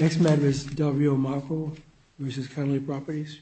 Next matter is Delrio-Mocci v. Connolly Properties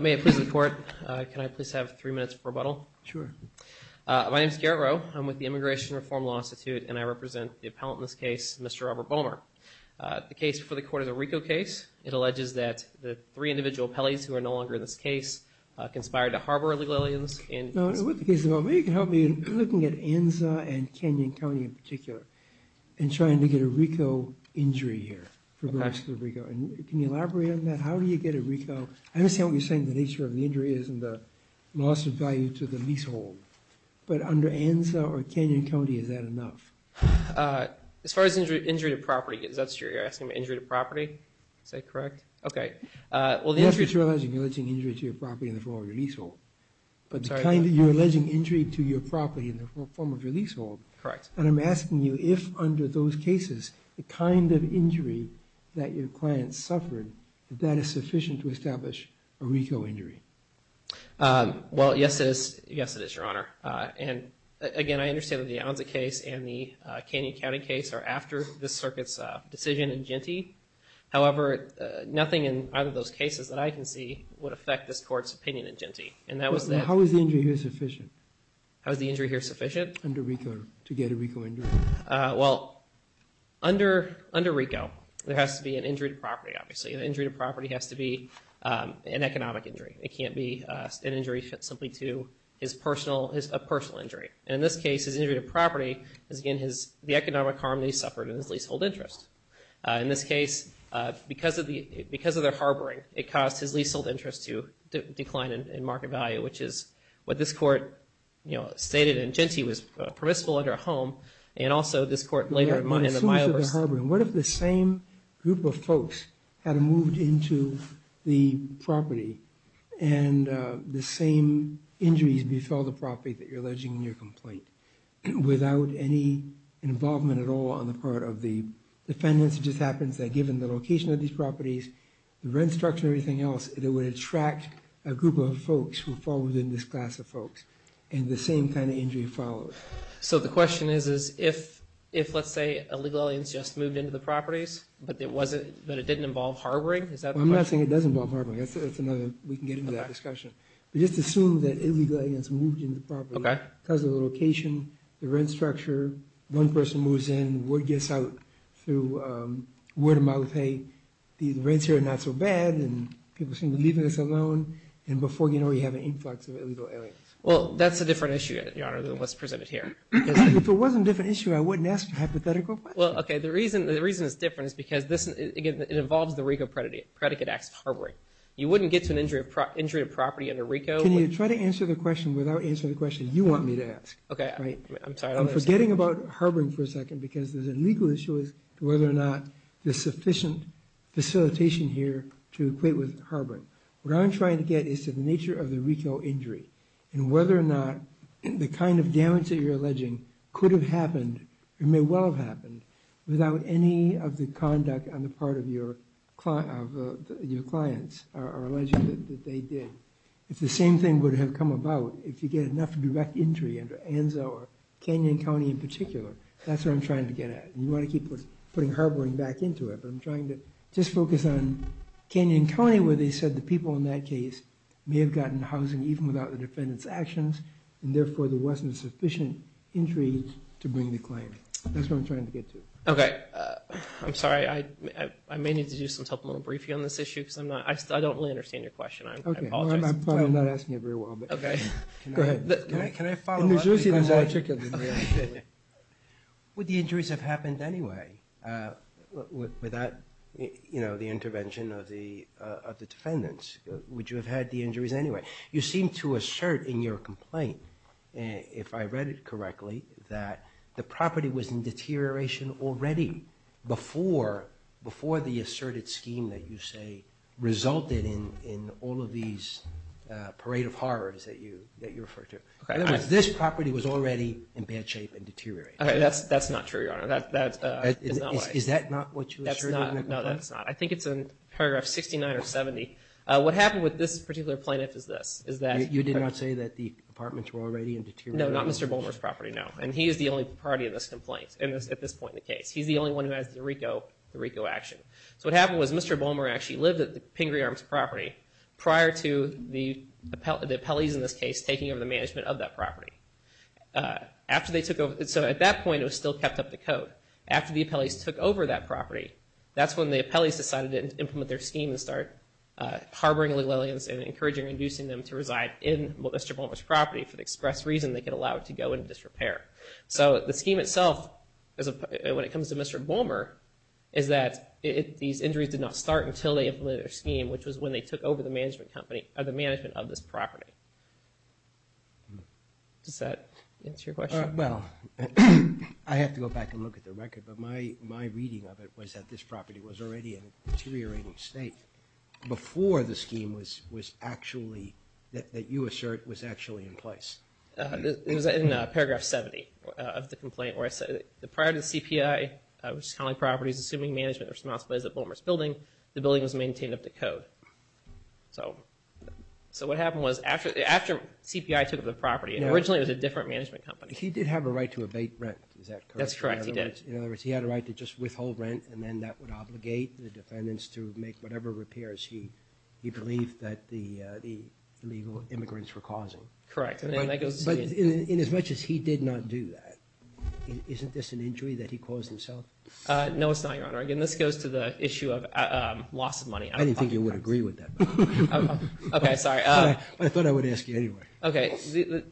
May I please have three minutes for rebuttal? Sure. My name is Garrett Rowe. I'm with the Immigration Reform Law Institute, and I represent the appellant in this case, Mr. Robert Bomer. The case before the court is a RICO case. It alleges that the three individual appellees who are no longer in this case conspired to harbor illegal aliens. With the case, maybe you can help me in looking at Anza and Canyon County in particular and trying to get a RICO injury here. Can you elaborate on that? How do you get a RICO? I understand what you're saying, the nature of the injury is in the loss of value to the leasehold. But under Anza or Canyon County, is that enough? As far as injury to property, is that true? You're asking about injury to property? Is that correct? You're alleging injury to your property in the form of your leasehold. But you're alleging injury to your property in the form of your leasehold. Correct. And I'm asking you, if under those cases, the kind of injury that your client suffered, is that sufficient to establish a RICO injury? Well, yes, it is. Yes, it is, Your Honor. And again, I understand that the Anza case and the Canyon County case are after this circuit's decision in Gentee. However, nothing in either of those cases that I can see would affect this court's opinion in Gentee. How is the injury here sufficient? How is the injury here sufficient? Under RICO to get a RICO injury. Well, under RICO, there has to be an injury to property, obviously. An injury to property has to be an economic injury. It can't be an injury simply to a personal injury. And in this case, his injury to property is, again, the economic harm that he suffered in his leasehold interest. In this case, because of their harboring, it caused his leasehold interest to decline in market value, which is what this court, you know, stated in Gentee was permissible under a home. And also, this court later in the file... What if the same group of folks had moved into the property and the same injuries befell the property that you're alleging in your complaint without any involvement at all on the part of the defendants? It just happens that given the location of these properties, the rent structure, everything else, it would attract a group of folks who fall within this class of folks. And the same kind of injury follows. So the question is if, let's say, illegal aliens just moved into the properties, but it didn't involve harboring? I'm not saying it doesn't involve harboring. We can get into that discussion. But just assume that illegal aliens moved into the property because of the location, the rent structure, one person moves in, word gets out through word of mouth, hey, the rents here are not so bad, and people seem to be leaving this alone. And before you know it, you have an influx of illegal aliens. Well, that's a different issue, Your Honor, than what's presented here. If it wasn't a different issue, I wouldn't ask a hypothetical question. Well, okay, the reason it's different is because, again, it involves the RICO predicate acts of harboring. You wouldn't get to an injury of property under RICO... Can you try to answer the question without answering the question you want me to ask? Okay, I'm sorry. I'm forgetting about harboring for a second because there's a legal issue as to whether or not there's sufficient facilitation here to equate with harboring. What I'm trying to get is to the nature of the RICO injury and whether or not the kind of damage that you're alleging could have happened, it may well have happened, without any of the conduct on the part of your clients are alleging that they did. If the same thing would have come about, if you get enough direct injury under ANZO or Canyon County in particular, that's what I'm trying to get at. And you want to keep putting harboring back into it. But I'm trying to just focus on Canyon County where they said the people in that case may have gotten housing even without the defendant's actions and therefore there wasn't sufficient injury to bring the claim. That's what I'm trying to get to. Okay, I'm sorry. I may need to do something a little briefer on this issue because I'm not... I don't really understand your question. I apologize. Okay, well, I'm probably not asking it very well, but... Okay. Go ahead. Can I follow up? Would the injuries have happened anyway without, you know, the intervention of the defendants? Would you have had the injuries anyway? You seem to assert in your complaint, if I read it correctly, that the property was in deterioration already before the asserted scheme that you say resulted in all of these parade of horrors that you refer to. In other words, this property was already in bad shape and deteriorating. Okay, that's not true, Your Honor. Is that not what you asserted? No, that's not. I think it's in paragraph 69 or 70. What happened with this particular plaintiff is this, is that... You did not say that the apartments were already in deterioration? No, not Mr. Bulmer's property, no. And he is the only party in this complaint, at this point in the case. He's the only one who has the RICO action. So what happened was Mr. Bulmer actually lived at the Pingree Arms property prior to the appellees in this case taking over the management of that property. So at that point, it was still kept up to code. After the appellees took over that property, that's when the appellees decided to implement their scheme and start harboring legal aliens and encouraging and inducing them to reside in Mr. Bulmer's property for the express reason they could allow it to go into disrepair. So the scheme itself, when it comes to Mr. Bulmer, is that these injuries did not start until they implemented their scheme, which was when they took over the management of this property. Does that answer your question? Well, I have to go back and look at the record, but my reading of it was that this property was already in a deteriorating state before the scheme that you assert was actually in place. It was in paragraph 70 of the complaint where it said, prior to the CPI, which is counting properties, assuming management responsibilities of Bulmer's building, the building was maintained up to code. So what happened was after CPI took over the property, originally it was a different management company. He did have a right to evade rent, is that correct? That's correct, he did. In other words, he had a right to just withhold rent, and then that would obligate the defendants to make whatever repairs he believed that the illegal immigrants were causing. Correct. But inasmuch as he did not do that, isn't this an injury that he caused himself? No, it's not, Your Honor. Again, this goes to the issue of loss of money. I didn't think you would agree with that. Okay, sorry. I thought I would ask you anyway. Okay,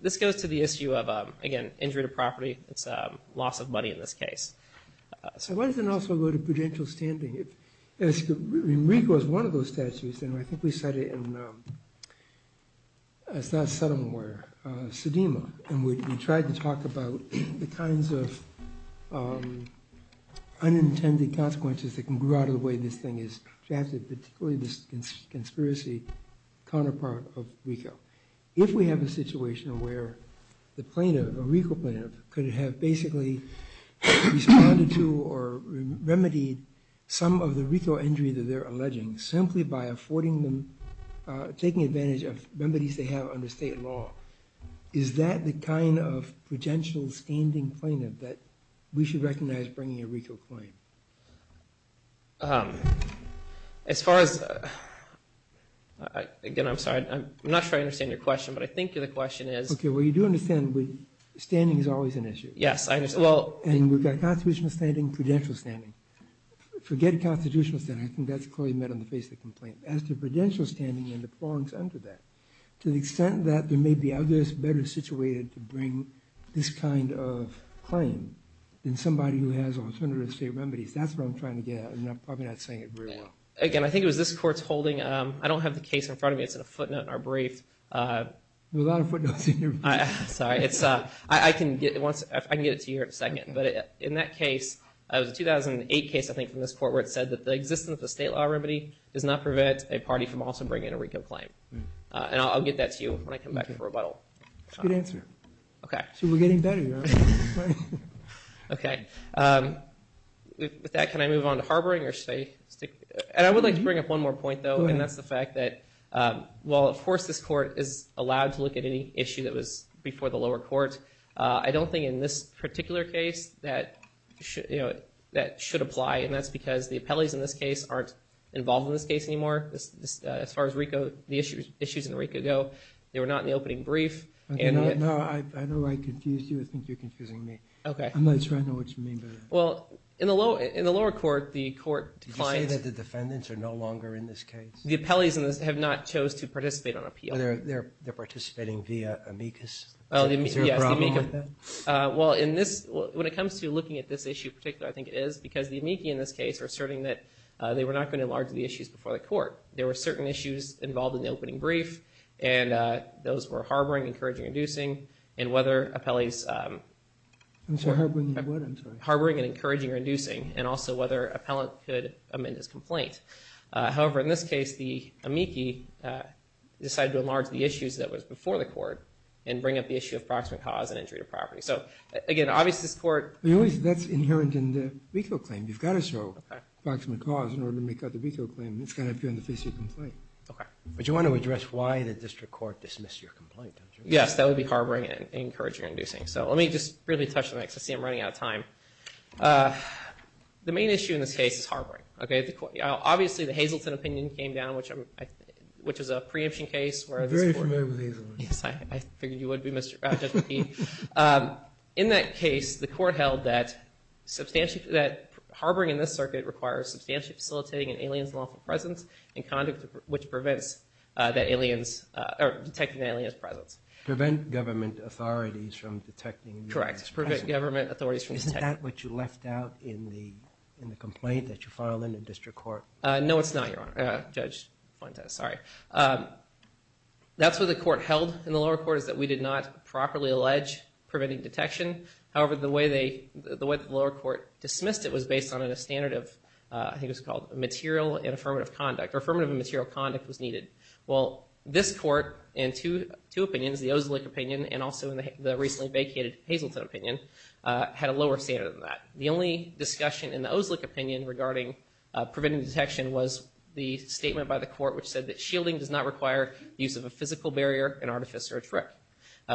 this goes to the issue of, again, injury to property, it's loss of money in this case. Why doesn't it also go to prudential standing? I mean, RICO is one of those statutes, and I think we cited it in Saddam War, Saddam, and we tried to talk about the kinds of unintended consequences that can grow out of the way this thing is drafted, particularly this conspiracy counterpart of RICO. If we have a situation where the plaintiff, a RICO plaintiff, could have basically responded to or remedied some of the RICO injury that they're alleging simply by taking advantage of remedies they have under state law, is that the kind of prudential standing plaintiff that we should recognize bringing a RICO claim? As far as, again, I'm sorry. I'm not sure I understand your question, but I think the question is. Okay, well, you do understand that standing is always an issue. Yes, I understand. And we've got constitutional standing, prudential standing. Forget constitutional standing. I think that's clearly met on the face of the complaint. As to prudential standing and the prongs under that, to the extent that there may be others better situated to bring this kind of claim than somebody who has alternative state remedies, that's what I'm trying to get at, and I'm probably not saying it very well. Again, I think it was this court's holding. I don't have the case in front of me. It's in a footnote in our brief. There are a lot of footnotes in your brief. Sorry. I can get it to you here in a second. But in that case, it was a 2008 case, I think, from this court, where it said that the existence of a state law remedy does not prevent a party from also bringing a RICO claim. And I'll get that to you when I come back from rebuttal. That's a good answer. Okay. See, we're getting better. Okay. With that, can I move on to harboring or state? And I would like to bring up one more point, though, and that's the fact that while, of course, this court is allowed to look at any issue that was before the lower court, I don't think in this particular case that should apply, and that's because the appellees in this case aren't involved in this case anymore, as far as the issues in RICO go. They were not in the opening brief. No, I know I confused you. I think you're confusing me. Okay. I'm not sure I know what you mean by that. Well, in the lower court, the court declined. Did you say that the defendants are no longer in this case? The appellees have not chose to participate on appeal. They're participating via amicus. Is there a problem with that? Well, when it comes to looking at this issue in particular, I think it is, because the amicus, in this case, are asserting that they were not going to enlarge the issues before the court. There were certain issues involved in the opening brief, and those were harboring, encouraging, or inducing, and whether appellees were harboring and encouraging or inducing, and also whether an appellant could amend his complaint. However, in this case, the amicus decided to enlarge the issues that was before the court and bring up the issue of proximate cause and injury to property. So, again, obviously this court That's inherent in the veto claim. You've got to show proximate cause in order to make out the veto claim. It's got to appear in the face of your complaint. Okay. But you want to address why the district court dismissed your complaint, don't you? Yes, that would be harboring and encouraging or inducing. So let me just really touch on that, because I see I'm running out of time. The main issue in this case is harboring. Obviously, the Hazleton opinion came down, which is a preemption case. I'm very familiar with Hazleton. Yes, I figured you would be, Judge P. In that case, the court held that harboring in this circuit requires substantially facilitating an alien's lawful presence and conduct which prevents detecting an alien's presence. Prevent government authorities from detecting an alien's presence. Correct. Prevent government authorities from detecting. Isn't that what you left out in the complaint that you filed in the district court? No, it's not, Judge Fuentes. Sorry. That's what the court held in the lower court, is that we did not properly allege preventing detection. However, the way the lower court dismissed it was based on a standard of, I think it was called, material and affirmative conduct. Affirmative and material conduct was needed. Well, this court, in two opinions, the Oslik opinion, and also in the recently vacated Hazleton opinion, had a lower standard than that. The only discussion in the Oslik opinion regarding preventing detection was the statement by the court which said that physical barrier and artifice are a trick,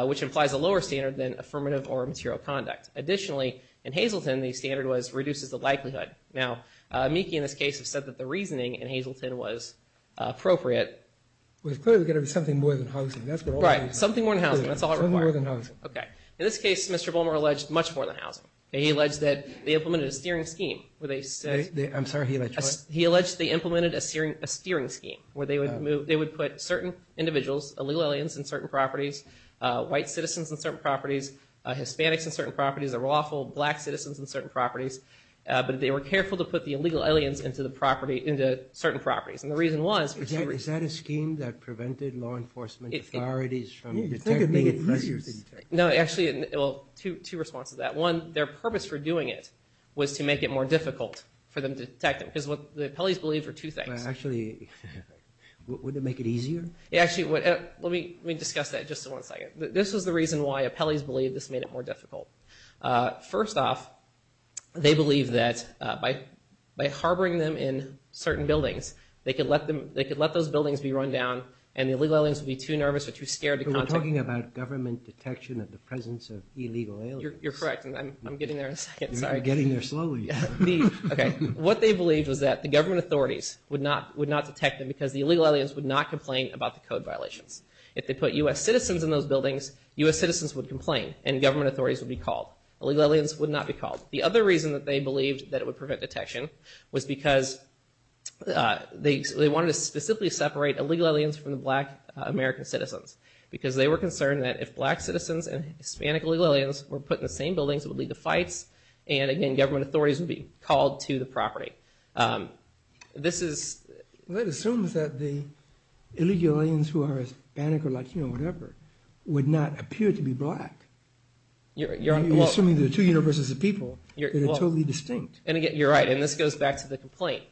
which implies a lower standard than affirmative or material conduct. Additionally, in Hazleton, the standard was reduces the likelihood. Now, Meeke, in this case, has said that the reasoning in Hazleton was appropriate. Well, clearly there's got to be something more than housing. Right. Something more than housing. That's all it required. In this case, Mr. Bulmer alleged much more than housing. He alleged that they implemented a steering scheme. I'm sorry, he alleged what? He alleged they implemented a steering scheme where they would put certain individuals, illegal aliens in certain properties, white citizens in certain properties, Hispanics in certain properties, the lawful black citizens in certain properties, but they were careful to put the illegal aliens into certain properties. And the reason was— Is that a scheme that prevented law enforcement authorities from detecting— I think it made it easier to detect. No, actually, well, two responses to that. One, their purpose for doing it was to make it more difficult for them to detect them because what the appellees believed were two things. Actually, would it make it easier? Actually, let me discuss that just one second. This was the reason why appellees believed this made it more difficult. First off, they believed that by harboring them in certain buildings, they could let those buildings be run down, and the illegal aliens would be too nervous or too scared to contact them. But we're talking about government detection at the presence of illegal aliens. You're correct, and I'm getting there in a second. Sorry. You're getting there slowly. What they believed was that the government authorities would not detect them because the illegal aliens would not complain about the code violations. If they put U.S. citizens in those buildings, U.S. citizens would complain, and government authorities would be called. Illegal aliens would not be called. The other reason that they believed that it would prevent detection was because they wanted to specifically separate illegal aliens from the black American citizens because they were concerned that if black citizens and Hispanic illegal aliens were put in the same buildings, it would lead to fights, and again, government authorities would be called to the property. That assumes that the illegal aliens who are Hispanic or Latino or whatever would not appear to be black. You're assuming there are two universes of people that are totally distinct. You're right, and this goes back to the complaint.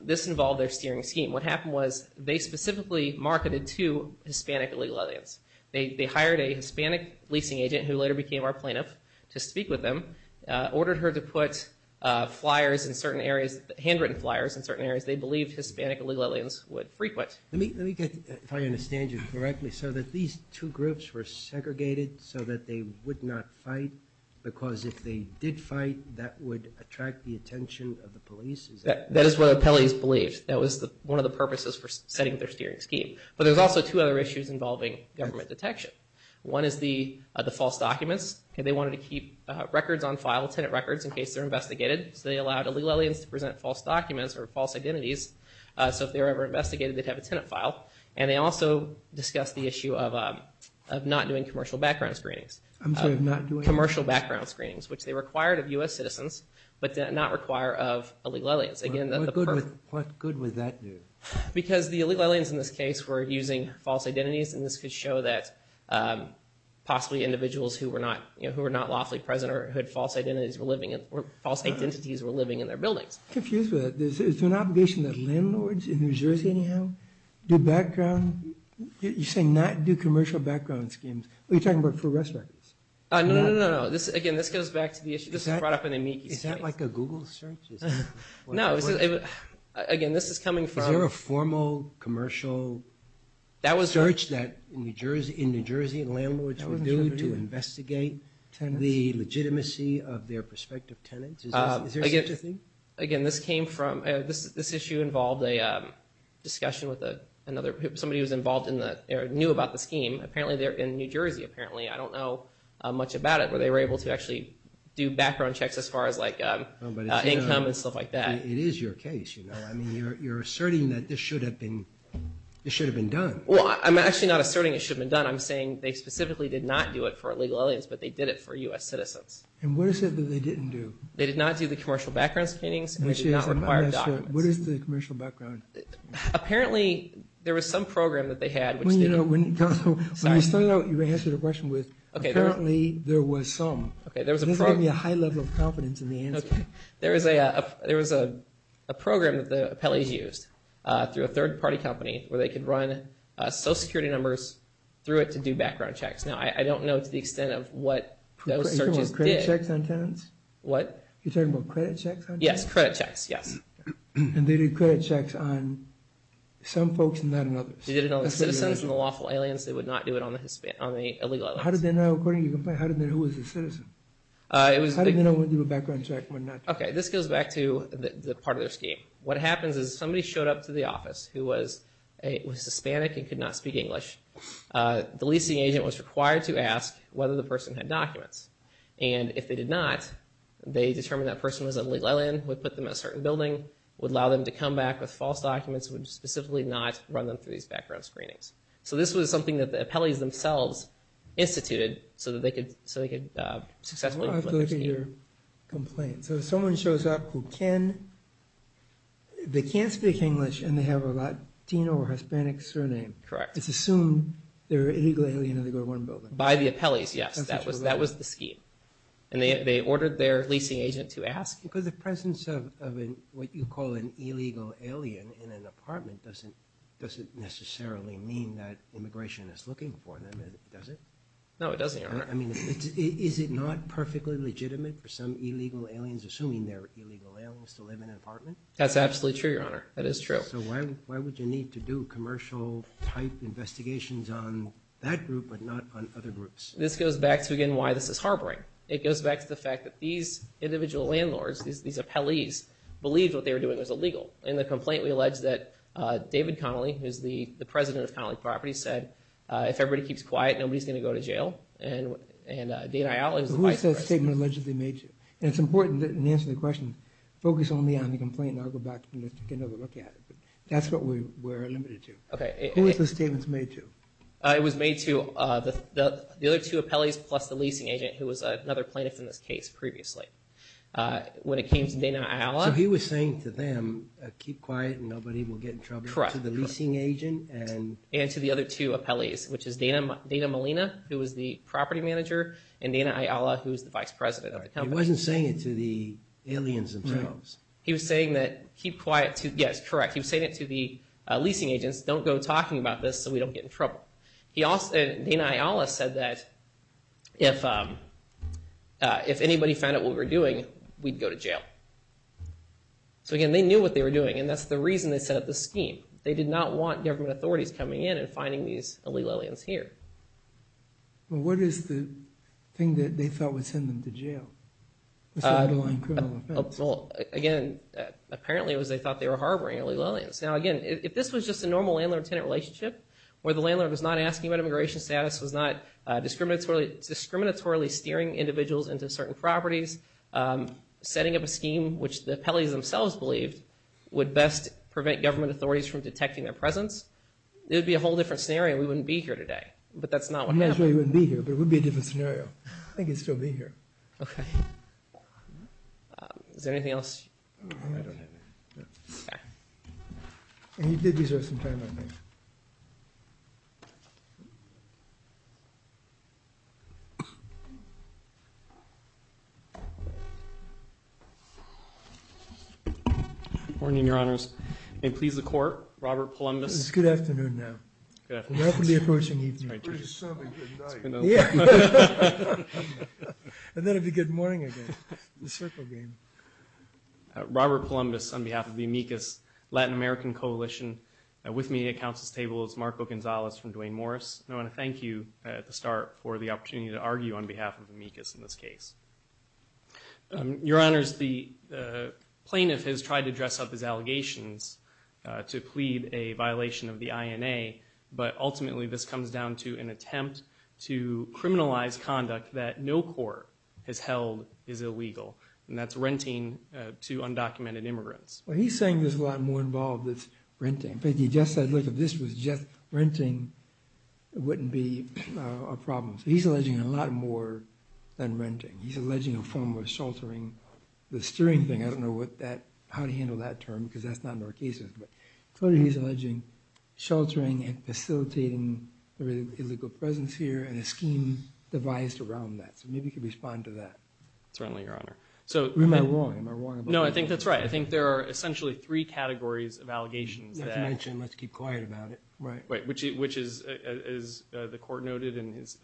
This involved their steering scheme. What happened was they specifically marketed to Hispanic illegal aliens. They hired a Hispanic leasing agent who later became our plaintiff to speak with them, ordered her to put flyers in certain areas, handwritten flyers in certain areas they believed Hispanic illegal aliens would frequent. Let me get, if I understand you correctly, so that these two groups were segregated so that they would not fight because if they did fight, that would attract the attention of the police? That is what appellees believed. That was one of the purposes for setting their steering scheme. But there's also two other issues involving government detection. One is the false documents. They wanted to keep records on file, tenant records, in case they're investigated. They allowed illegal aliens to present false documents or false identities so if they were ever investigated, they'd have a tenant file. They also discussed the issue of not doing commercial background screenings. I'm sorry, not doing? Commercial background screenings, which they required of U.S. citizens but did not require of illegal aliens. What good would that do? Because the illegal aliens in this case were using false identities and this could show that possibly individuals who were not lawfully present or who had false identities were living in their buildings. I'm confused with that. Is there an obligation that landlords in New Jersey anyhow do background, you're saying not do commercial background schemes. Are you talking about for rest records? No, no, no, no. Again, this goes back to the issue. This was brought up in the amici. Is that like a Google search? No. Again, this is coming from... In New Jersey, landlords were doing to investigate the legitimacy of their prospective tenants. Is there such a thing? Again, this issue involved a discussion with somebody who was involved or knew about the scheme. Apparently, they're in New Jersey. Apparently, I don't know much about it, but they were able to actually do background checks as far as income and stuff like that. It is your case. You're asserting that this should have been done. Well, I'm actually not asserting it should have been done. I'm saying they specifically did not do it for illegal aliens, but they did it for U.S. citizens. And what is it that they didn't do? They did not do the commercial background scannings, and they did not require documents. What is the commercial background? Apparently, there was some program that they had which they didn't. When you started out, you answered a question with, apparently, there was some. This gave me a high level of confidence in the answer. There was a program that the appellees used through a third-party company where they could run Social Security numbers through it to do background checks. Now, I don't know to the extent of what those searches did. You're talking about credit checks on tenants? What? You're talking about credit checks on tenants? Yes, credit checks, yes. And they did credit checks on some folks and not on others. They did it on the citizens and the lawful aliens. They would not do it on the illegal aliens. How did they know, according to your complaint, who was the citizen? How did they know when to do a background check and when not to? Okay, this goes back to the part of their scheme. What happens is somebody showed up to the office who was Hispanic and could not speak English. The leasing agent was required to ask whether the person had documents. And if they did not, they determined that person was an illegal alien, would put them in a certain building, would allow them to come back with false documents, would specifically not run them through these background screenings. So this was something that the appellees themselves instituted so they could successfully implement their scheme. So someone shows up who can, they can't speak English and they have a Latino or Hispanic surname. Correct. It's assumed they're an illegal alien and they go to one building. By the appellees, yes, that was the scheme. And they ordered their leasing agent to ask. Because the presence of what you call an illegal alien in an apartment doesn't necessarily mean that immigration is looking for them, does it? No, it doesn't, Your Honor. I mean, is it not perfectly legitimate for some illegal aliens, assuming they're illegal aliens, to live in an apartment? That's absolutely true, Your Honor. That is true. So why would you need to do commercial-type investigations on that group but not on other groups? This goes back to, again, why this is harboring. It goes back to the fact that these individual landlords, these appellees, believed what they were doing was illegal. In the complaint, we allege that David Connolly, who's the president of Connolly Properties, said, if everybody keeps quiet, nobody's going to go to jail. And Dana Ayala is the vice president. Who is this statement allegedly made to? And it's important in answering the question, focus only on the complaint, and I'll go back and take another look at it. But that's what we're limited to. Who is this statement made to? It was made to the other two appellees plus the leasing agent, who was another plaintiff in this case previously. When it came to Dana Ayala— So he was saying to them, keep quiet and nobody will get in trouble. Correct. To the leasing agent and— And to the other two appellees, which is Dana Molina, who was the property manager, and Dana Ayala, who was the vice president of the company. He wasn't saying it to the aliens themselves. He was saying that, keep quiet to—yes, correct. He was saying it to the leasing agents, don't go talking about this so we don't get in trouble. Dana Ayala said that if anybody found out what we were doing, we'd go to jail. So, again, they knew what they were doing, and that's the reason they set up this scheme. They did not want government authorities coming in and finding these illegal aliens here. Well, what is the thing that they thought would send them to jail, aside from criminal offense? Well, again, apparently it was they thought they were harboring illegal aliens. Now, again, if this was just a normal landlord-tenant relationship, where the landlord was not asking about immigration status, was not discriminatorily steering individuals into certain properties, setting up a scheme, which the appellees themselves believed would best prevent government authorities from detecting their presence, it would be a whole different scenario. We wouldn't be here today, but that's not what happened. I'm not sure you wouldn't be here, but it would be a different scenario. I think you'd still be here. Okay. Is there anything else? I don't know. And he did deserve some time out here. Good morning, Your Honors. May it please the Court, Robert Polumbus. It's good afternoon now. Good afternoon. We're open to the approaching evening. It's been a pretty solid good night. Yeah. And then it'd be good morning again. The circle game. Robert Polumbus on behalf of the Amicus Latin American Coalition. With me at Council's table is Marco Gonzalez from Duane Morris. I want to thank you at the start for the opportunity to argue on behalf of Amicus in this case. Your Honors, the plaintiff has tried to dress up his allegations to plead a violation of the INA, but ultimately this comes down to an attempt to criminalize conduct that no court has held is illegal, and that's renting to undocumented immigrants. Well, he's saying there's a lot more involved than renting. In fact, he just said, look, if this was just renting, it wouldn't be a problem. So he's alleging a lot more than renting. He's alleging a form of sheltering. The steering thing, I don't know how to handle that term because that's not in our cases, but clearly he's alleging sheltering and facilitating the illegal presence here and a scheme devised around that. So maybe you could respond to that. Certainly, Your Honor. Am I wrong? No, I think that's right. I think there are essentially three categories of allegations. As you mentioned, let's keep quiet about it. Right. Which is, as the Court noted and as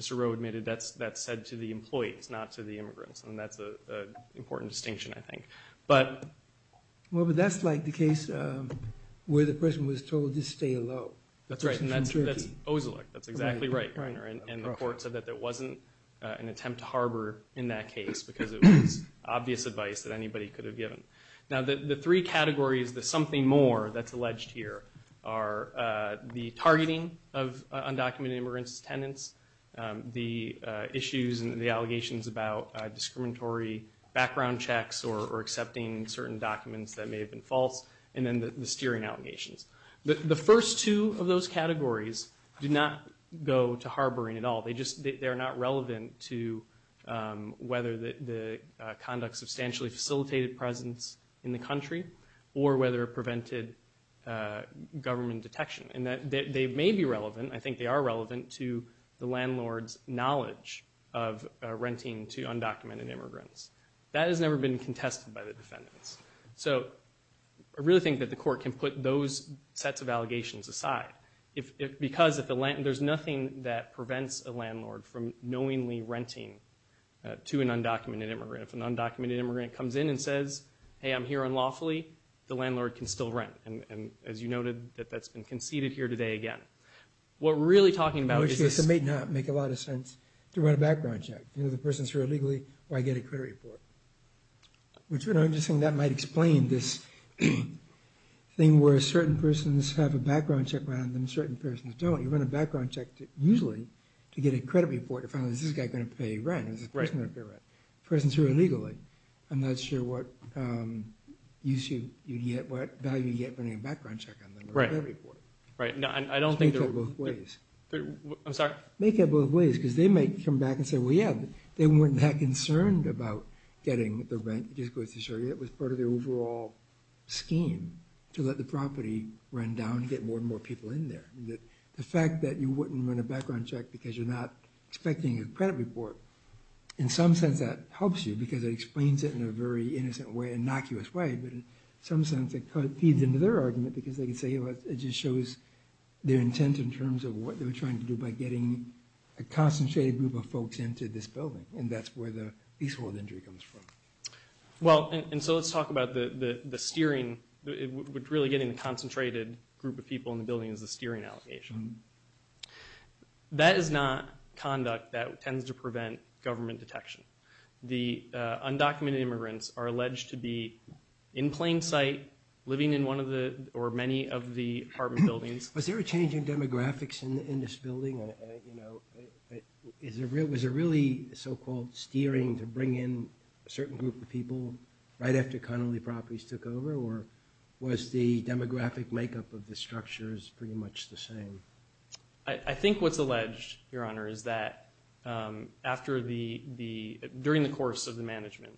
Mr. Rowe admitted, that's said to the employees, not to the immigrants, and that's an important distinction, I think. Well, but that's like the case where the person was told to stay alone. That's exactly right, Your Honor. And the Court said that there wasn't an attempt to harbor in that case because it was obvious advice that anybody could have given. Now, the three categories, the something more that's alleged here, are the targeting of undocumented immigrants' tenants, the issues and the allegations about discriminatory background checks or accepting certain documents that may have been false, and then the steering allegations. The first two of those categories do not go to harboring at all. They're not relevant to whether the conduct substantially facilitated presence in the country or whether it prevented government detection. And they may be relevant. I think they are relevant to the landlord's knowledge of renting to undocumented immigrants. That has never been contested by the defendants. So I really think that the Court can put those sets of allegations aside because there's nothing that prevents a landlord from knowingly renting to an undocumented immigrant. If an undocumented immigrant comes in and says, hey, I'm here unlawfully, the landlord can still rent. And as you noted, that's been conceded here today again. What we're really talking about is this. In which case, it may not make a lot of sense to run a background check. Either the person's here illegally or I get a credit report. Which would be interesting. That might explain this thing where certain persons have a background check and then certain persons don't. You run a background check usually to get a credit report to find out is this guy going to pay rent, is this person going to pay rent. The person's here illegally. I'm not sure what value you get running a background check on them or a credit report. Make that both ways. I'm sorry? Make that both ways because they might come back and say, well, yeah, they weren't that concerned about getting the rent. It was part of their overall scheme to let the property run down and get more and more people in there. The fact that you wouldn't run a background check because you're not expecting a credit report, in some sense that helps you because it explains it in a very innocent way, innocuous way. But in some sense it feeds into their argument because they can say it just shows their intent in terms of what they were trying to do by getting a concentrated group of folks into this building, and that's where the peaceful injury comes from. Well, and so let's talk about the steering. Really getting a concentrated group of people in the building is the steering allegation. That is not conduct that tends to prevent government detection. The undocumented immigrants are alleged to be in plain sight, living in one of the or many of the apartment buildings. Was there a change in demographics in this building? Was it really so-called steering to bring in a certain group of people right after Connolly Properties took over, or was the demographic makeup of the structures pretty much the same? I think what's alleged, Your Honor, is that during the course of the management,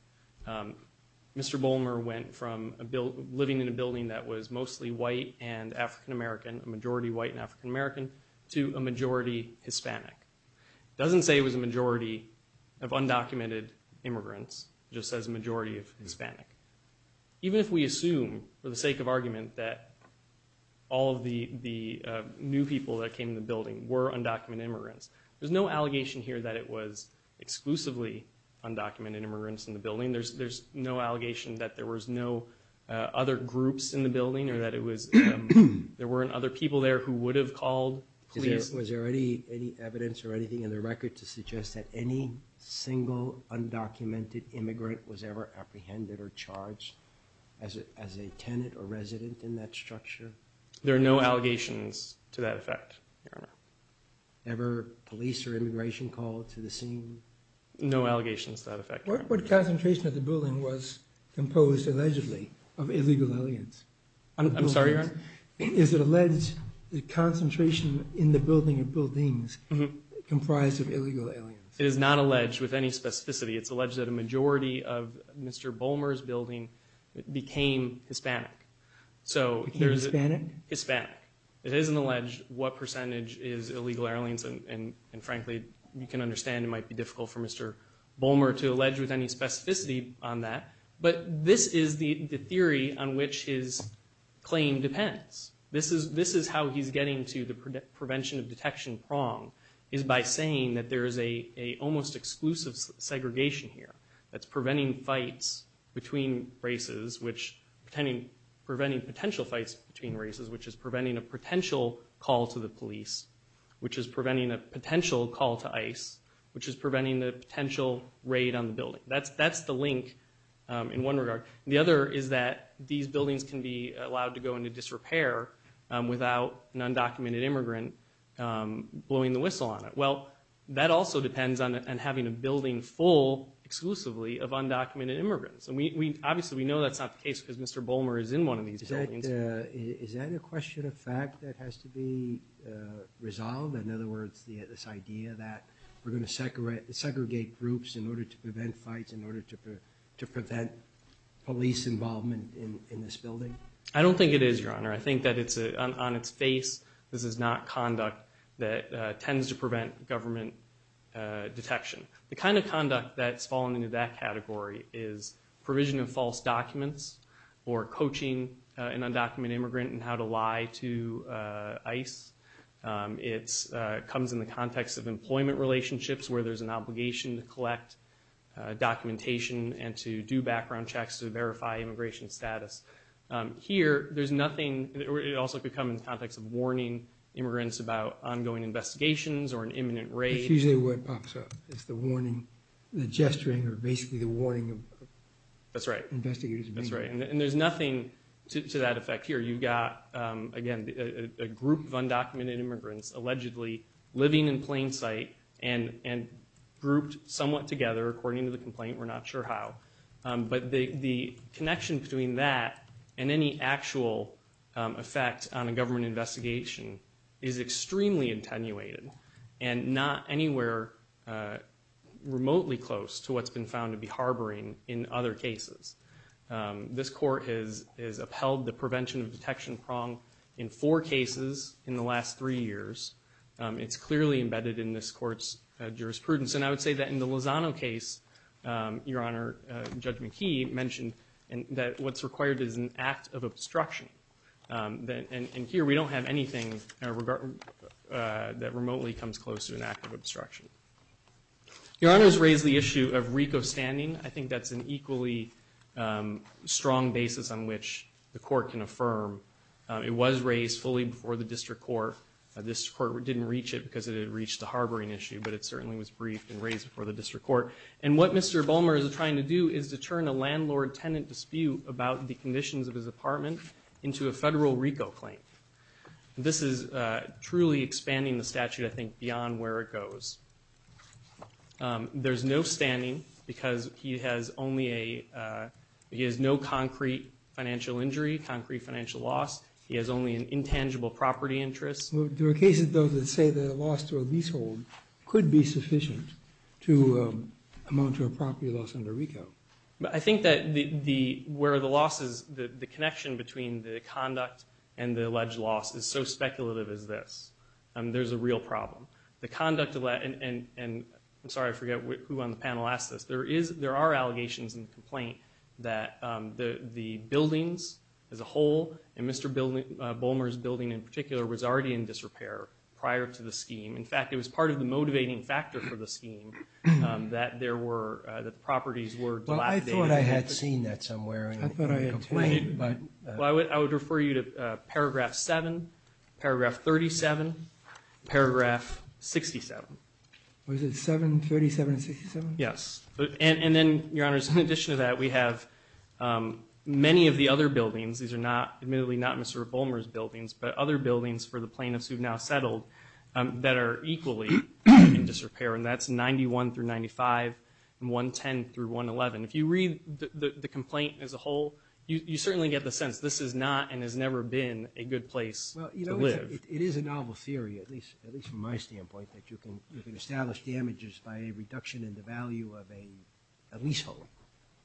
Mr. Bolmer went from living in a building that was mostly white and African-American, a majority white and African-American, to a majority Hispanic. It doesn't say it was a majority of undocumented immigrants. It just says a majority of Hispanic. Even if we assume, for the sake of argument, that all of the new people that came to the building were undocumented immigrants, there's no allegation here that it was exclusively undocumented immigrants in the building. There's no allegation that there was no other groups in the building or that there weren't other people there who would have called police. Was there any evidence or anything in the record to suggest that any single undocumented immigrant was ever apprehended or charged as a tenant or resident in that structure? There are no allegations to that effect, Your Honor. Ever police or immigration called to the scene? No allegations to that effect, Your Honor. What concentration of the building was composed, allegedly, of illegal aliens? I'm sorry, Your Honor? Is it alleged the concentration in the building of buildings comprised of illegal aliens? It is not alleged with any specificity. It's alleged that a majority of Mr. Bolmer's building became Hispanic. Became Hispanic? Hispanic. It isn't alleged what percentage is illegal aliens, and frankly you can understand it might be difficult for Mr. Bolmer to allege with any specificity on that, but this is the theory on which his claim depends. This is how he's getting to the prevention of detection prong, is by saying that there is an almost exclusive segregation here that's preventing fights between races, preventing potential fights between races, which is preventing a potential call to the police, which is preventing a potential call to ICE, which is preventing the potential raid on the building. That's the link in one regard. The other is that these buildings can be allowed to go into disrepair without an undocumented immigrant blowing the whistle on it. Well, that also depends on having a building full exclusively of undocumented immigrants, and obviously we know that's not the case because Mr. Bolmer is in one of these buildings. Is that a question of fact that has to be resolved? In other words, this idea that we're going to segregate groups in order to prevent fights, in order to prevent police involvement in this building? I don't think it is, Your Honor. I think that on its face this is not conduct that tends to prevent government detection. The kind of conduct that's fallen into that category is provision of false documents It comes in the context of employment relationships where there's an obligation to collect documentation and to do background checks to verify immigration status. Here, it also could come in the context of warning immigrants about ongoing investigations or an imminent raid. It's usually where it pops up. It's the warning, the gesturing, or basically the warning of investigators. That's right. And there's nothing to that effect here. You've got, again, a group of undocumented immigrants allegedly living in plain sight and grouped somewhat together according to the complaint. We're not sure how. But the connection between that and any actual effect on a government investigation is extremely attenuated and not anywhere remotely close to what's been found to be harboring in other cases. This court has upheld the prevention of detection prong in four cases in the last three years. It's clearly embedded in this court's jurisprudence. And I would say that in the Lozano case, Your Honor, Judge McKee mentioned that what's required is an act of obstruction. And here we don't have anything that remotely comes close to an act of obstruction. Your Honor has raised the issue of RICO standing. I think that's an equally strong basis on which the court can affirm. It was raised fully before the district court. This court didn't reach it because it had reached the harboring issue, but it certainly was briefed and raised before the district court. And what Mr. Bulmer is trying to do is to turn a landlord-tenant dispute about the conditions of his apartment into a federal RICO claim. This is truly expanding the statute, I think, beyond where it goes. There's no standing because he has no concrete financial injury, concrete financial loss. He has only an intangible property interest. There are cases, though, that say that a loss to a leasehold could be sufficient to amount to a property loss under RICO. I think that where the loss is, the connection between the conduct and the alleged loss is so speculative as this. There's a real problem. I'm sorry, I forget who on the panel asked this. There are allegations in the complaint that the buildings as a whole, and Mr. Bulmer's building in particular, was already in disrepair prior to the scheme. In fact, it was part of the motivating factor for the scheme that the properties were dilapidated. I thought I had seen that somewhere in the complaint. I would refer you to Paragraph 7, Paragraph 37, Paragraph 67. Was it 7, 37, and 67? And then, Your Honors, in addition to that, we have many of the other buildings. These are admittedly not Mr. Bulmer's buildings, but other buildings for the plaintiffs who have now settled that are equally in disrepair, and that's 91 through 95 and 110 through 111. If you read the complaint as a whole, you certainly get the sense this is not and has never been a good place to live. It is a novel theory, at least from my standpoint, that you can establish damages by a reduction in the value of a leasehold,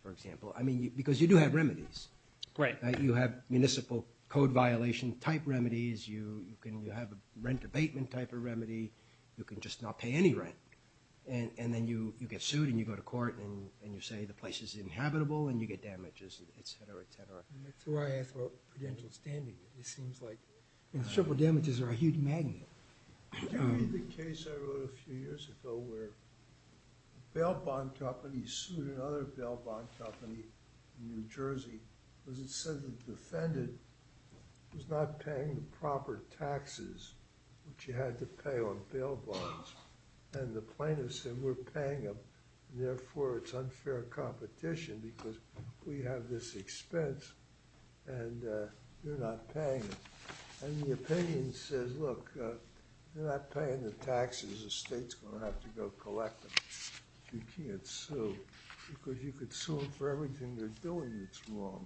for example, because you do have remedies. You have municipal code violation type remedies. You have a rent abatement type of remedy. You can just not pay any rent, and then you get sued, and you go to court, and you say the place is inhabitable, and you get damages, et cetera, et cetera. That's why I asked about prudential standing. It seems like triple damages are a huge magnet. You know, in the case I wrote a few years ago where a bail bond company sued another bail bond company in New Jersey because it said the defendant was not paying the proper taxes which you had to pay on bail bonds, and the plaintiff said we're paying them, and therefore it's unfair competition because we have this expense, and you're not paying them. And the opinion says, look, you're not paying the taxes. The state's going to have to go collect them. You can't sue because you could sue them for everything they're doing that's wrong,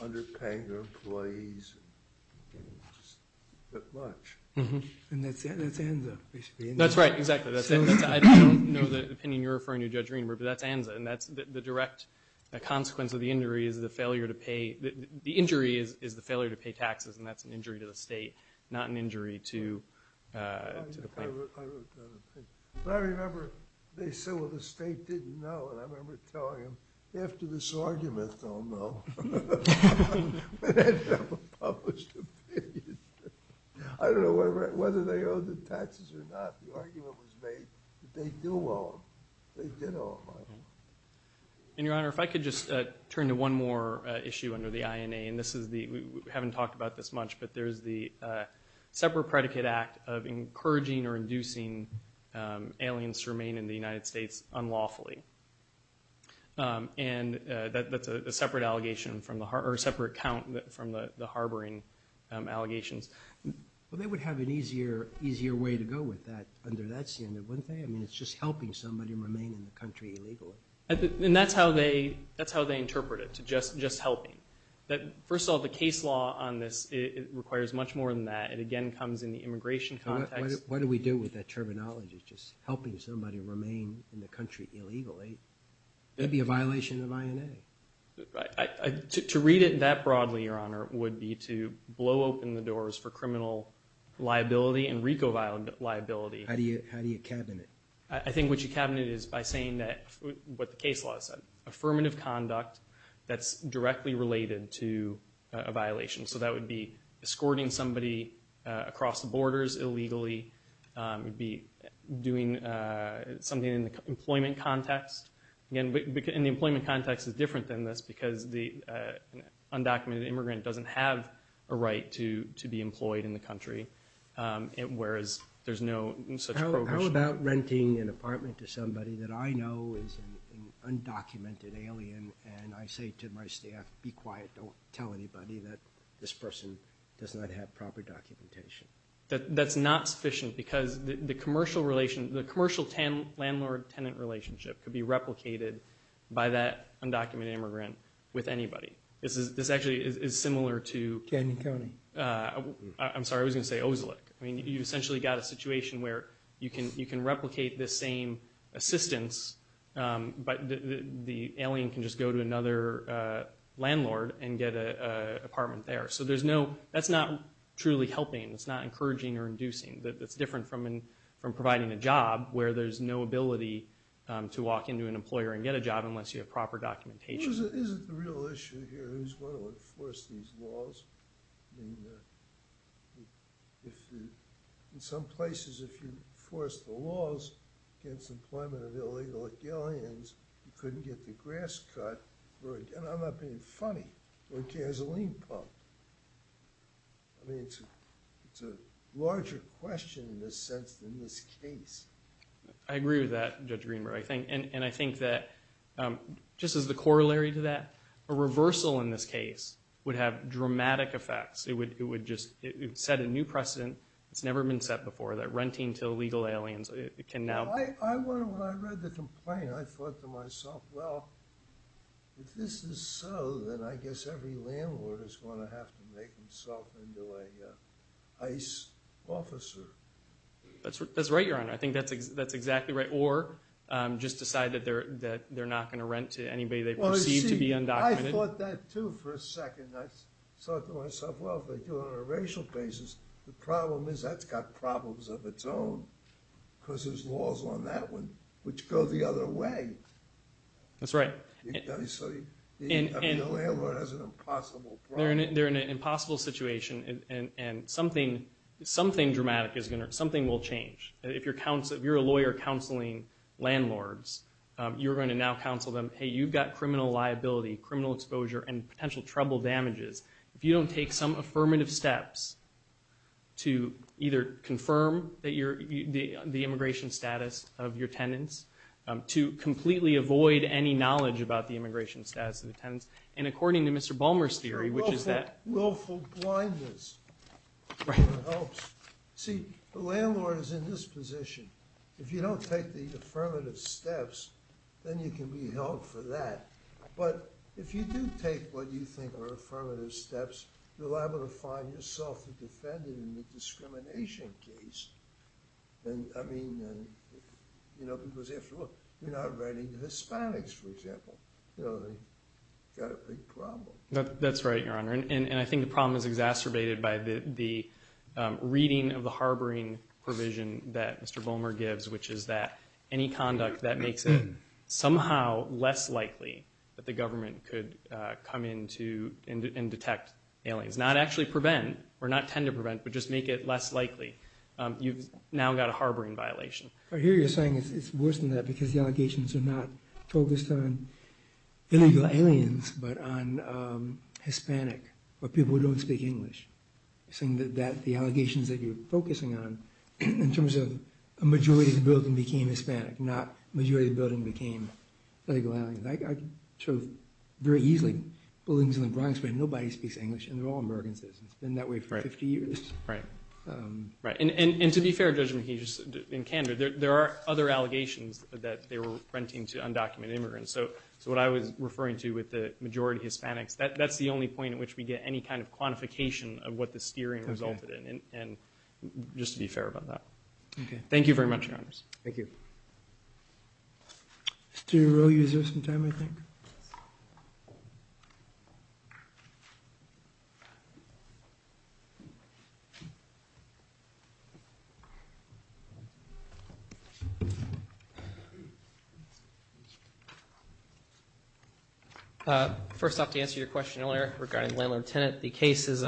underpaying their employees and just that much. And that's ANZA, basically. That's right, exactly. I don't know the opinion you're referring to, Judge Greenberg, but that's ANZA, and that's the direct consequence of the injury is the failure to pay. The injury is the failure to pay taxes, and that's an injury to the state, not an injury to the plaintiff. I remember they said, well, the state didn't know, and I remember telling them, after this argument, they'll know. But that's a published opinion. I don't know whether they owe the taxes or not. The argument was made that they do owe them. They did owe them. And, Your Honor, if I could just turn to one more issue under the INA, and we haven't talked about this much, but there's the separate predicate act of encouraging or inducing aliens to remain in the United States unlawfully. And that's a separate count from the harboring allegations. Well, they would have an easier way to go with that under that standard, wouldn't they? I mean, it's just helping somebody remain in the country illegally. And that's how they interpret it, to just helping. First of all, the case law on this requires much more than that. It, again, comes in the immigration context. What do we do with that terminology, just helping somebody remain in the country illegally? That would be a violation of INA. To read it that broadly, Your Honor, would be to blow open the doors for criminal liability and RICO liability. How do you cabinet? I think what you cabinet is by saying that what the case law said, affirmative conduct that's directly related to a violation. So that would be escorting somebody across the borders illegally. It would be doing something in the employment context. And the employment context is different than this because the undocumented immigrant doesn't have a right to be employed in the country, whereas there's no such prohibition. How about renting an apartment to somebody that I know is an undocumented alien and I say to my staff, be quiet, don't tell anybody that this person does not have proper documentation? That's not sufficient because the commercial landlord-tenant relationship could be replicated by that undocumented immigrant with anybody. This actually is similar to— Canyon County. I'm sorry, I was going to say Oslek. You've essentially got a situation where you can replicate this same assistance, but the alien can just go to another landlord and get an apartment there. So that's not truly helping. It's not encouraging or inducing. It's different from providing a job where there's no ability to walk into an employer and get a job unless you have proper documentation. Isn't the real issue here is who's going to enforce these laws? I mean, in some places, if you enforce the laws against employment of illegal aliens, you couldn't get the grass cut. I'm not being funny. You're a gasoline pump. I mean, it's a larger question in this sense than this case. I agree with that, Judge Greenberg, and I think that just as the corollary to that, a reversal in this case would have dramatic effects. It would just set a new precedent that's never been set before, that renting to illegal aliens can now— When I read the complaint, I thought to myself, well, if this is so, then I guess every landlord is going to have to make himself into an ICE officer. That's right, Your Honor. I think that's exactly right. Or just decide that they're not going to rent to anybody they perceive to be undocumented. I thought that, too, for a second. I thought to myself, well, if they do it on a racial basis, the problem is that's got problems of its own because there's laws on that one which go the other way. That's right. I mean, no landlord has an impossible problem. They're in an impossible situation, and something dramatic is going to— something will change. If you're a lawyer counseling landlords, you're going to now counsel them, hey, you've got criminal liability, criminal exposure, and potential trouble damages. If you don't take some affirmative steps to either confirm the immigration status of your tenants, to completely avoid any knowledge about the immigration status of the tenants, and according to Mr. Balmer's theory, which is that— Willful blindness helps. See, the landlord is in this position. If you don't take the affirmative steps, then you can be held for that. But if you do take what you think are affirmative steps, you're liable to find yourself a defendant in the discrimination case. I mean, because after all, you're not writing to Hispanics, for example. They've got a big problem. That's right, Your Honor, and I think the problem is exacerbated by the reading of the harboring provision that Mr. Balmer gives, which is that any conduct that makes it somehow less likely that the government could come in and detect aliens, not actually prevent or not tend to prevent, but just make it less likely, you've now got a harboring violation. I hear you're saying it's worse than that because the allegations are not focused on illegal aliens, but on Hispanic, or people who don't speak English. You're saying that the allegations that you're focusing on, in terms of a majority of the building became Hispanic, not majority of the building became illegal aliens. I can show very easily buildings in the Bronx where nobody speaks English and they're all American citizens. It's been that way for 50 years. Right, and to be fair, Judge McKee, just in candor, there are other allegations that they were renting to undocumented immigrants. So what I was referring to with the majority Hispanics, that's the only point at which we get any kind of quantification of what the steering resulted in, just to be fair about that. Okay, thank you very much, Your Honors. Thank you. Mr. O'Rourke, you have some time, I think. First off, to answer your question earlier regarding Landlord-Tenant, the case is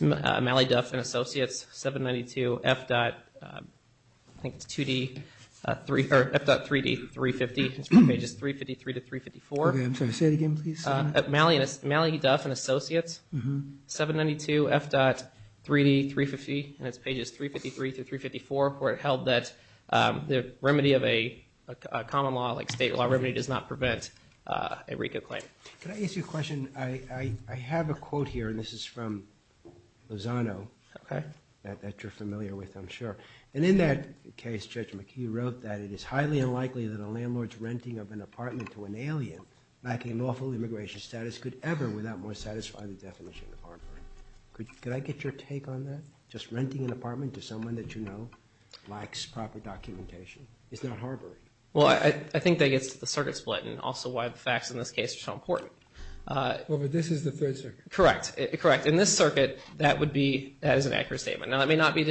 Malley-Duff & Associates, 792 F.3D 350, pages 353 to 354. I'm sorry, say that again, please. Malley-Duff & Associates, 792 F.3D 350, and it's pages 353 to 354, where it held that the remedy of a common law, like state law remedy, does not prevent a RICO claim. Could I ask you a question? I have a quote here, and this is from Lozano, that you're familiar with, I'm sure. And in that case, Judge McKee wrote that it is highly unlikely that a landlord's renting of an apartment to an alien, lacking lawful immigration status, could ever without more satisfying the definition of harboring. Could I get your take on that? Just renting an apartment to someone that you know lacks proper documentation is not harboring. Well, I think that gets to the circuit split, and also why the facts in this case are so important. Well, but this is the third circuit. Correct. Correct. In this circuit, that is an accurate statement. Now, it may not be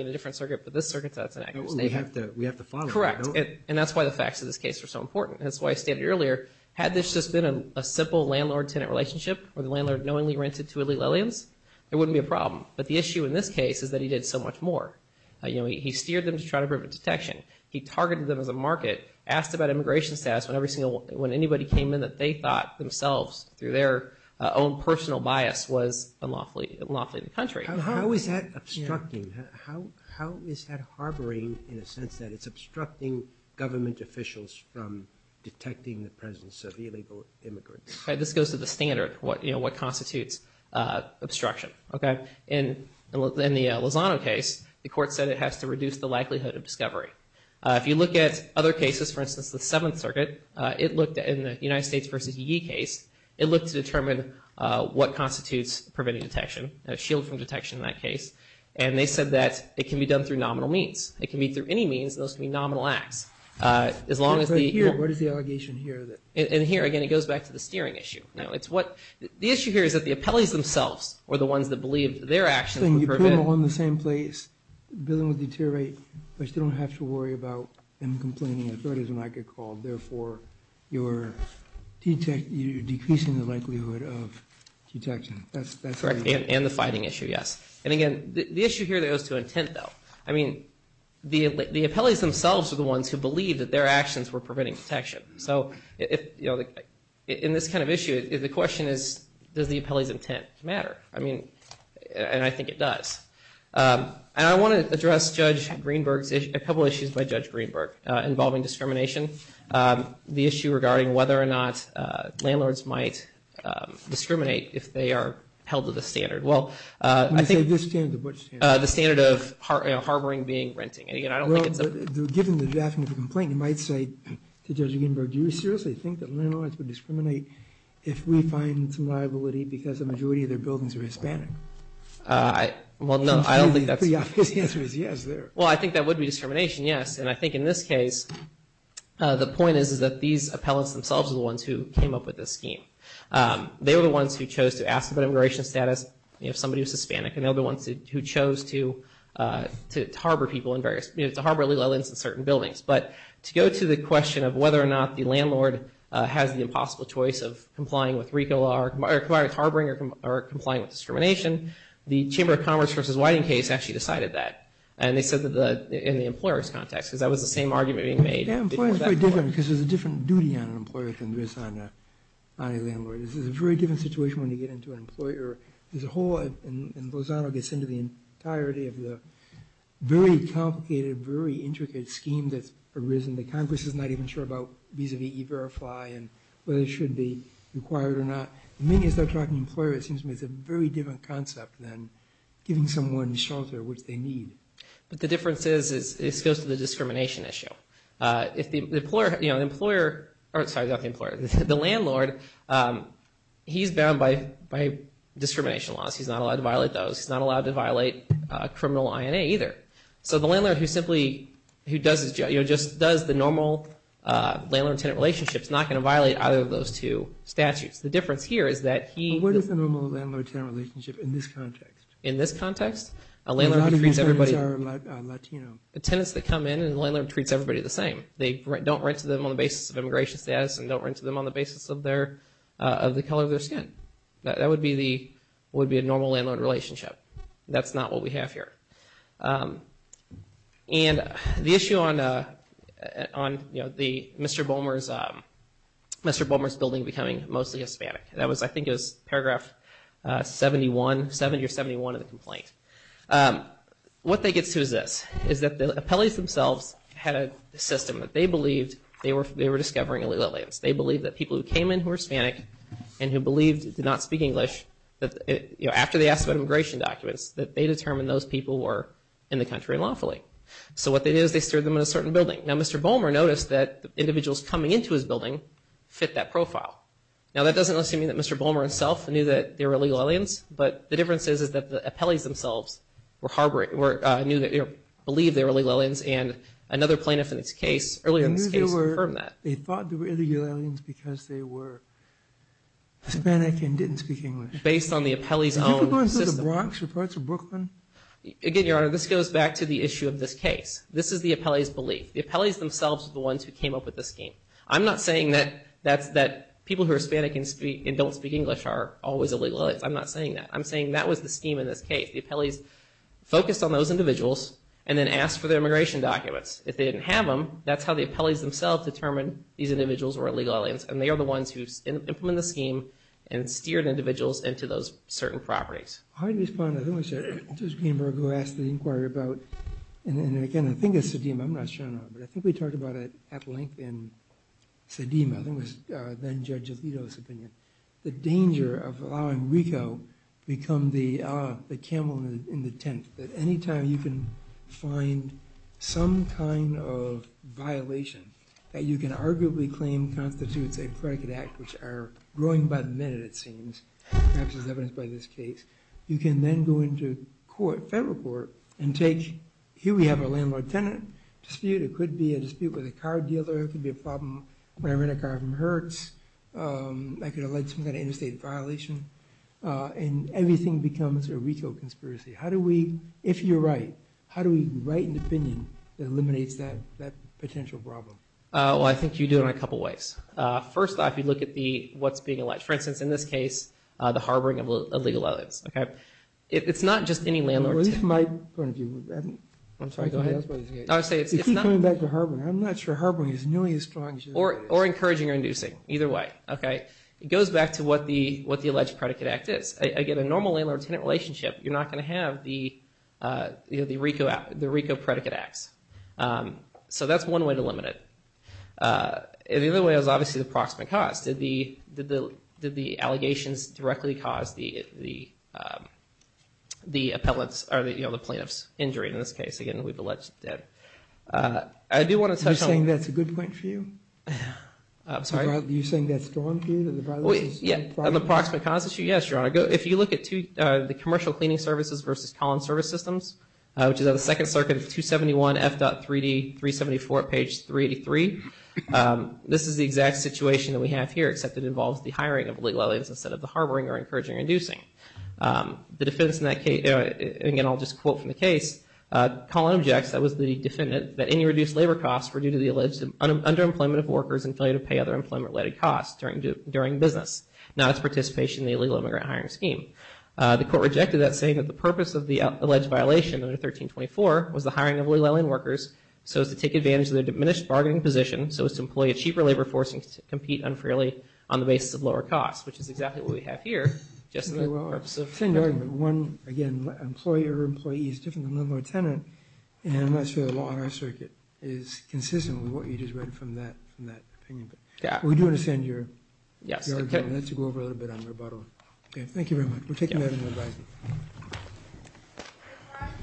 in a different circuit, but in this circuit, that's an accurate statement. We have to follow it. Correct. And that's why the facts in this case are so important. That's why I stated earlier, had this just been a simple landlord-tenant relationship where the landlord knowingly rented to elite Lillians, it wouldn't be a problem. But the issue in this case is that he did so much more. He steered them to try to prevent detection. He targeted them as a market, asked about immigration status when anybody came in that they thought themselves, through their own personal bias, was unlawfully in the country. How is that obstructing? How is that harboring in a sense that it's obstructing government officials from detecting the presence of illegal immigrants? This goes to the standard, what constitutes obstruction. In the Lozano case, the court said it has to reduce the likelihood of discovery. If you look at other cases, for instance, the Seventh Circuit, in the United States v. Higee case, it looked to determine what constitutes preventing detection, shield from detection in that case, and they said that it can be done through nominal means. It can be through any means, and those can be nominal acts. What is the allegation here? Here, again, it goes back to the steering issue. The issue here is that the appellees themselves were the ones that believed their actions would prevent. You put them all in the same place, dealing with deteriorate, but you don't have to worry about them complaining. Therefore, you're decreasing the likelihood of detection. That's correct. And the fighting issue, yes. And again, the issue here goes to intent, though. I mean, the appellees themselves were the ones who believed that their actions were preventing detection. So in this kind of issue, the question is, does the appellee's intent matter? I mean, and I think it does. And I want to address Judge Greenberg's issue, a couple issues by Judge Greenberg involving discrimination. The issue regarding whether or not landlords might discriminate if they are held to the standard. Well, I think the standard of harboring being renting. Given the drafting of the complaint, you might say to Judge Greenberg, do you seriously think that landlords would discriminate if we find some liability because the majority of their buildings are Hispanic? Well, no, I don't think that's. The obvious answer is yes there. Well, I think that would be discrimination, yes. And I think in this case, the point is, is that these appellants themselves are the ones who came up with this scheme. They were the ones who chose to ask about immigration status, if somebody was Hispanic. And they were the ones who chose to harbor people in various, to harbor illegal elements in certain buildings. But to go to the question of whether or not the landlord has the impossible choice of complying with harboring or complying with discrimination, the Chamber of Commerce v. Whiting case actually decided that. And they said that in the employer's context, because that was the same argument being made before that court. Yeah, employers are very different because there's a different duty on an employer than there is on a landlord. This is a very different situation when you get into an employer. There's a whole, and Lozano gets into the entirety of the very complicated, very intricate scheme that's arisen that Congress is not even sure about vis-a-vis E-Verify and whether it should be required or not. The minute you start talking employer, it seems to me it's a very different concept than giving someone shelter, which they need. But the difference is it goes to the discrimination issue. If the employer, you know, the employer, or sorry, not the employer, the landlord, he's bound by discrimination laws. He's not allowed to violate those. He's not allowed to violate criminal INA either. So the landlord who simply, who does his job, you know, just does the normal landlord-tenant relationship is not going to violate either of those two statutes. The difference here is that he. What is the normal landlord-tenant relationship in this context? In this context, a landlord treats everybody. A lot of his tenants are Latino. The tenants that come in, the landlord treats everybody the same. They don't rent to them on the basis of immigration status and don't rent to them on the basis of their, of the color of their skin. That would be the, would be a normal landlord relationship. That's not what we have here. And the issue on, you know, the Mr. Boehmer's, Mr. Boehmer's building becoming mostly Hispanic. That was, I think it was paragraph 71, 70 or 71 of the complaint. What that gets to is this. Is that the appellees themselves had a system that they believed they were discovering illegal aliens. They believed that people who came in who were Hispanic and who believed did not speak English that, you know, after they asked about immigration documents that they determined those people were in the country unlawfully. So what they did is they stored them in a certain building. Now Mr. Boehmer noticed that individuals coming into his building fit that profile. Now that doesn't assume that Mr. Boehmer himself knew that they were illegal aliens. But the difference is, is that the appellees themselves were harboring, were, knew that, you know, believed they were illegal aliens and another plaintiff in this case, earlier in this case confirmed that. They thought they were illegal aliens because they were Hispanic and didn't speak English. Based on the appellee's own system. Did you go into the Bronx or parts of Brooklyn? Again, Your Honor, this goes back to the issue of this case. This is the appellee's belief. The appellee's themselves are the ones who came up with this scheme. I'm not saying that people who are Hispanic and don't speak English are always illegal aliens. I'm not saying that. I'm saying that was the scheme in this case. The appellees focused on those individuals and then asked for their immigration documents. If they didn't have them, that's how the appellees themselves determined these individuals were illegal aliens and they are the ones who implemented the scheme and steered individuals into those certain properties. How do you respond to this? This is Greenberg who asked the inquiry about, and again, I think it's the DM. I'm not sure. I think we talked about it at length in the DM. I think it was then Judge Alito's opinion. The danger of allowing RICO to become the camel in the tent, that any time you can find some kind of violation that you can arguably claim constitutes a predicate act, which are growing by the minute, it seems, perhaps as evidenced by this case, you can then go into federal court and take, here we have a landlord-tenant dispute. It could be a dispute with a car dealer. It could be a problem when I rent a car from Hertz. I could allege some kind of interstate violation. And everything becomes a RICO conspiracy. How do we, if you're right, how do we write an opinion that eliminates that potential problem? Well, I think you do it in a couple ways. First off, you look at what's being alleged. For instance, in this case, the harboring of illegal aliens. It's not just any landlord. I'm sorry, go ahead. It's coming back to harboring. I'm not sure harboring is nearly as strong. Or encouraging or inducing, either way. It goes back to what the alleged predicate act is. Again, a normal landlord-tenant relationship, you're not going to have the RICO predicate acts. So that's one way to limit it. The other way is obviously the proximate cause. Did the allegations directly cause the plaintiff's injury? In this case, again, we've alleged that. Are you saying that's a good point for you? I'm sorry? Are you saying that's a good point for you? The proximate cause issue? Yes, Your Honor. If you look at the commercial cleaning services versus Collins Service Systems, which is on the second circuit of 271 F.3D 374, page 383. This is the exact situation that we have here, except it involves the hiring of illegal aliens instead of the harboring or encouraging or inducing. Again, I'll just quote from the case. Collin objects, that was the defendant, that any reduced labor costs were due to the alleged underemployment of workers and failure to pay other employment-related costs during business, not its participation in the illegal immigrant hiring scheme. The court rejected that, saying that the purpose of the alleged violation under 1324 was the hiring of illegal alien workers so as to take advantage of their diminished bargaining position so as to employ a cheaper labor force and compete unfairly on the basis of lower costs, which is exactly what we have here. Just for the purpose of... One, again, employer-employee is different than landlord-tenant, and I must say the law on our circuit is consistent with what you just read from that opinion. Yeah. We do want to send your argument. Let's go over a little bit on rebuttal. Thank you very much. We'll take you back to your advising.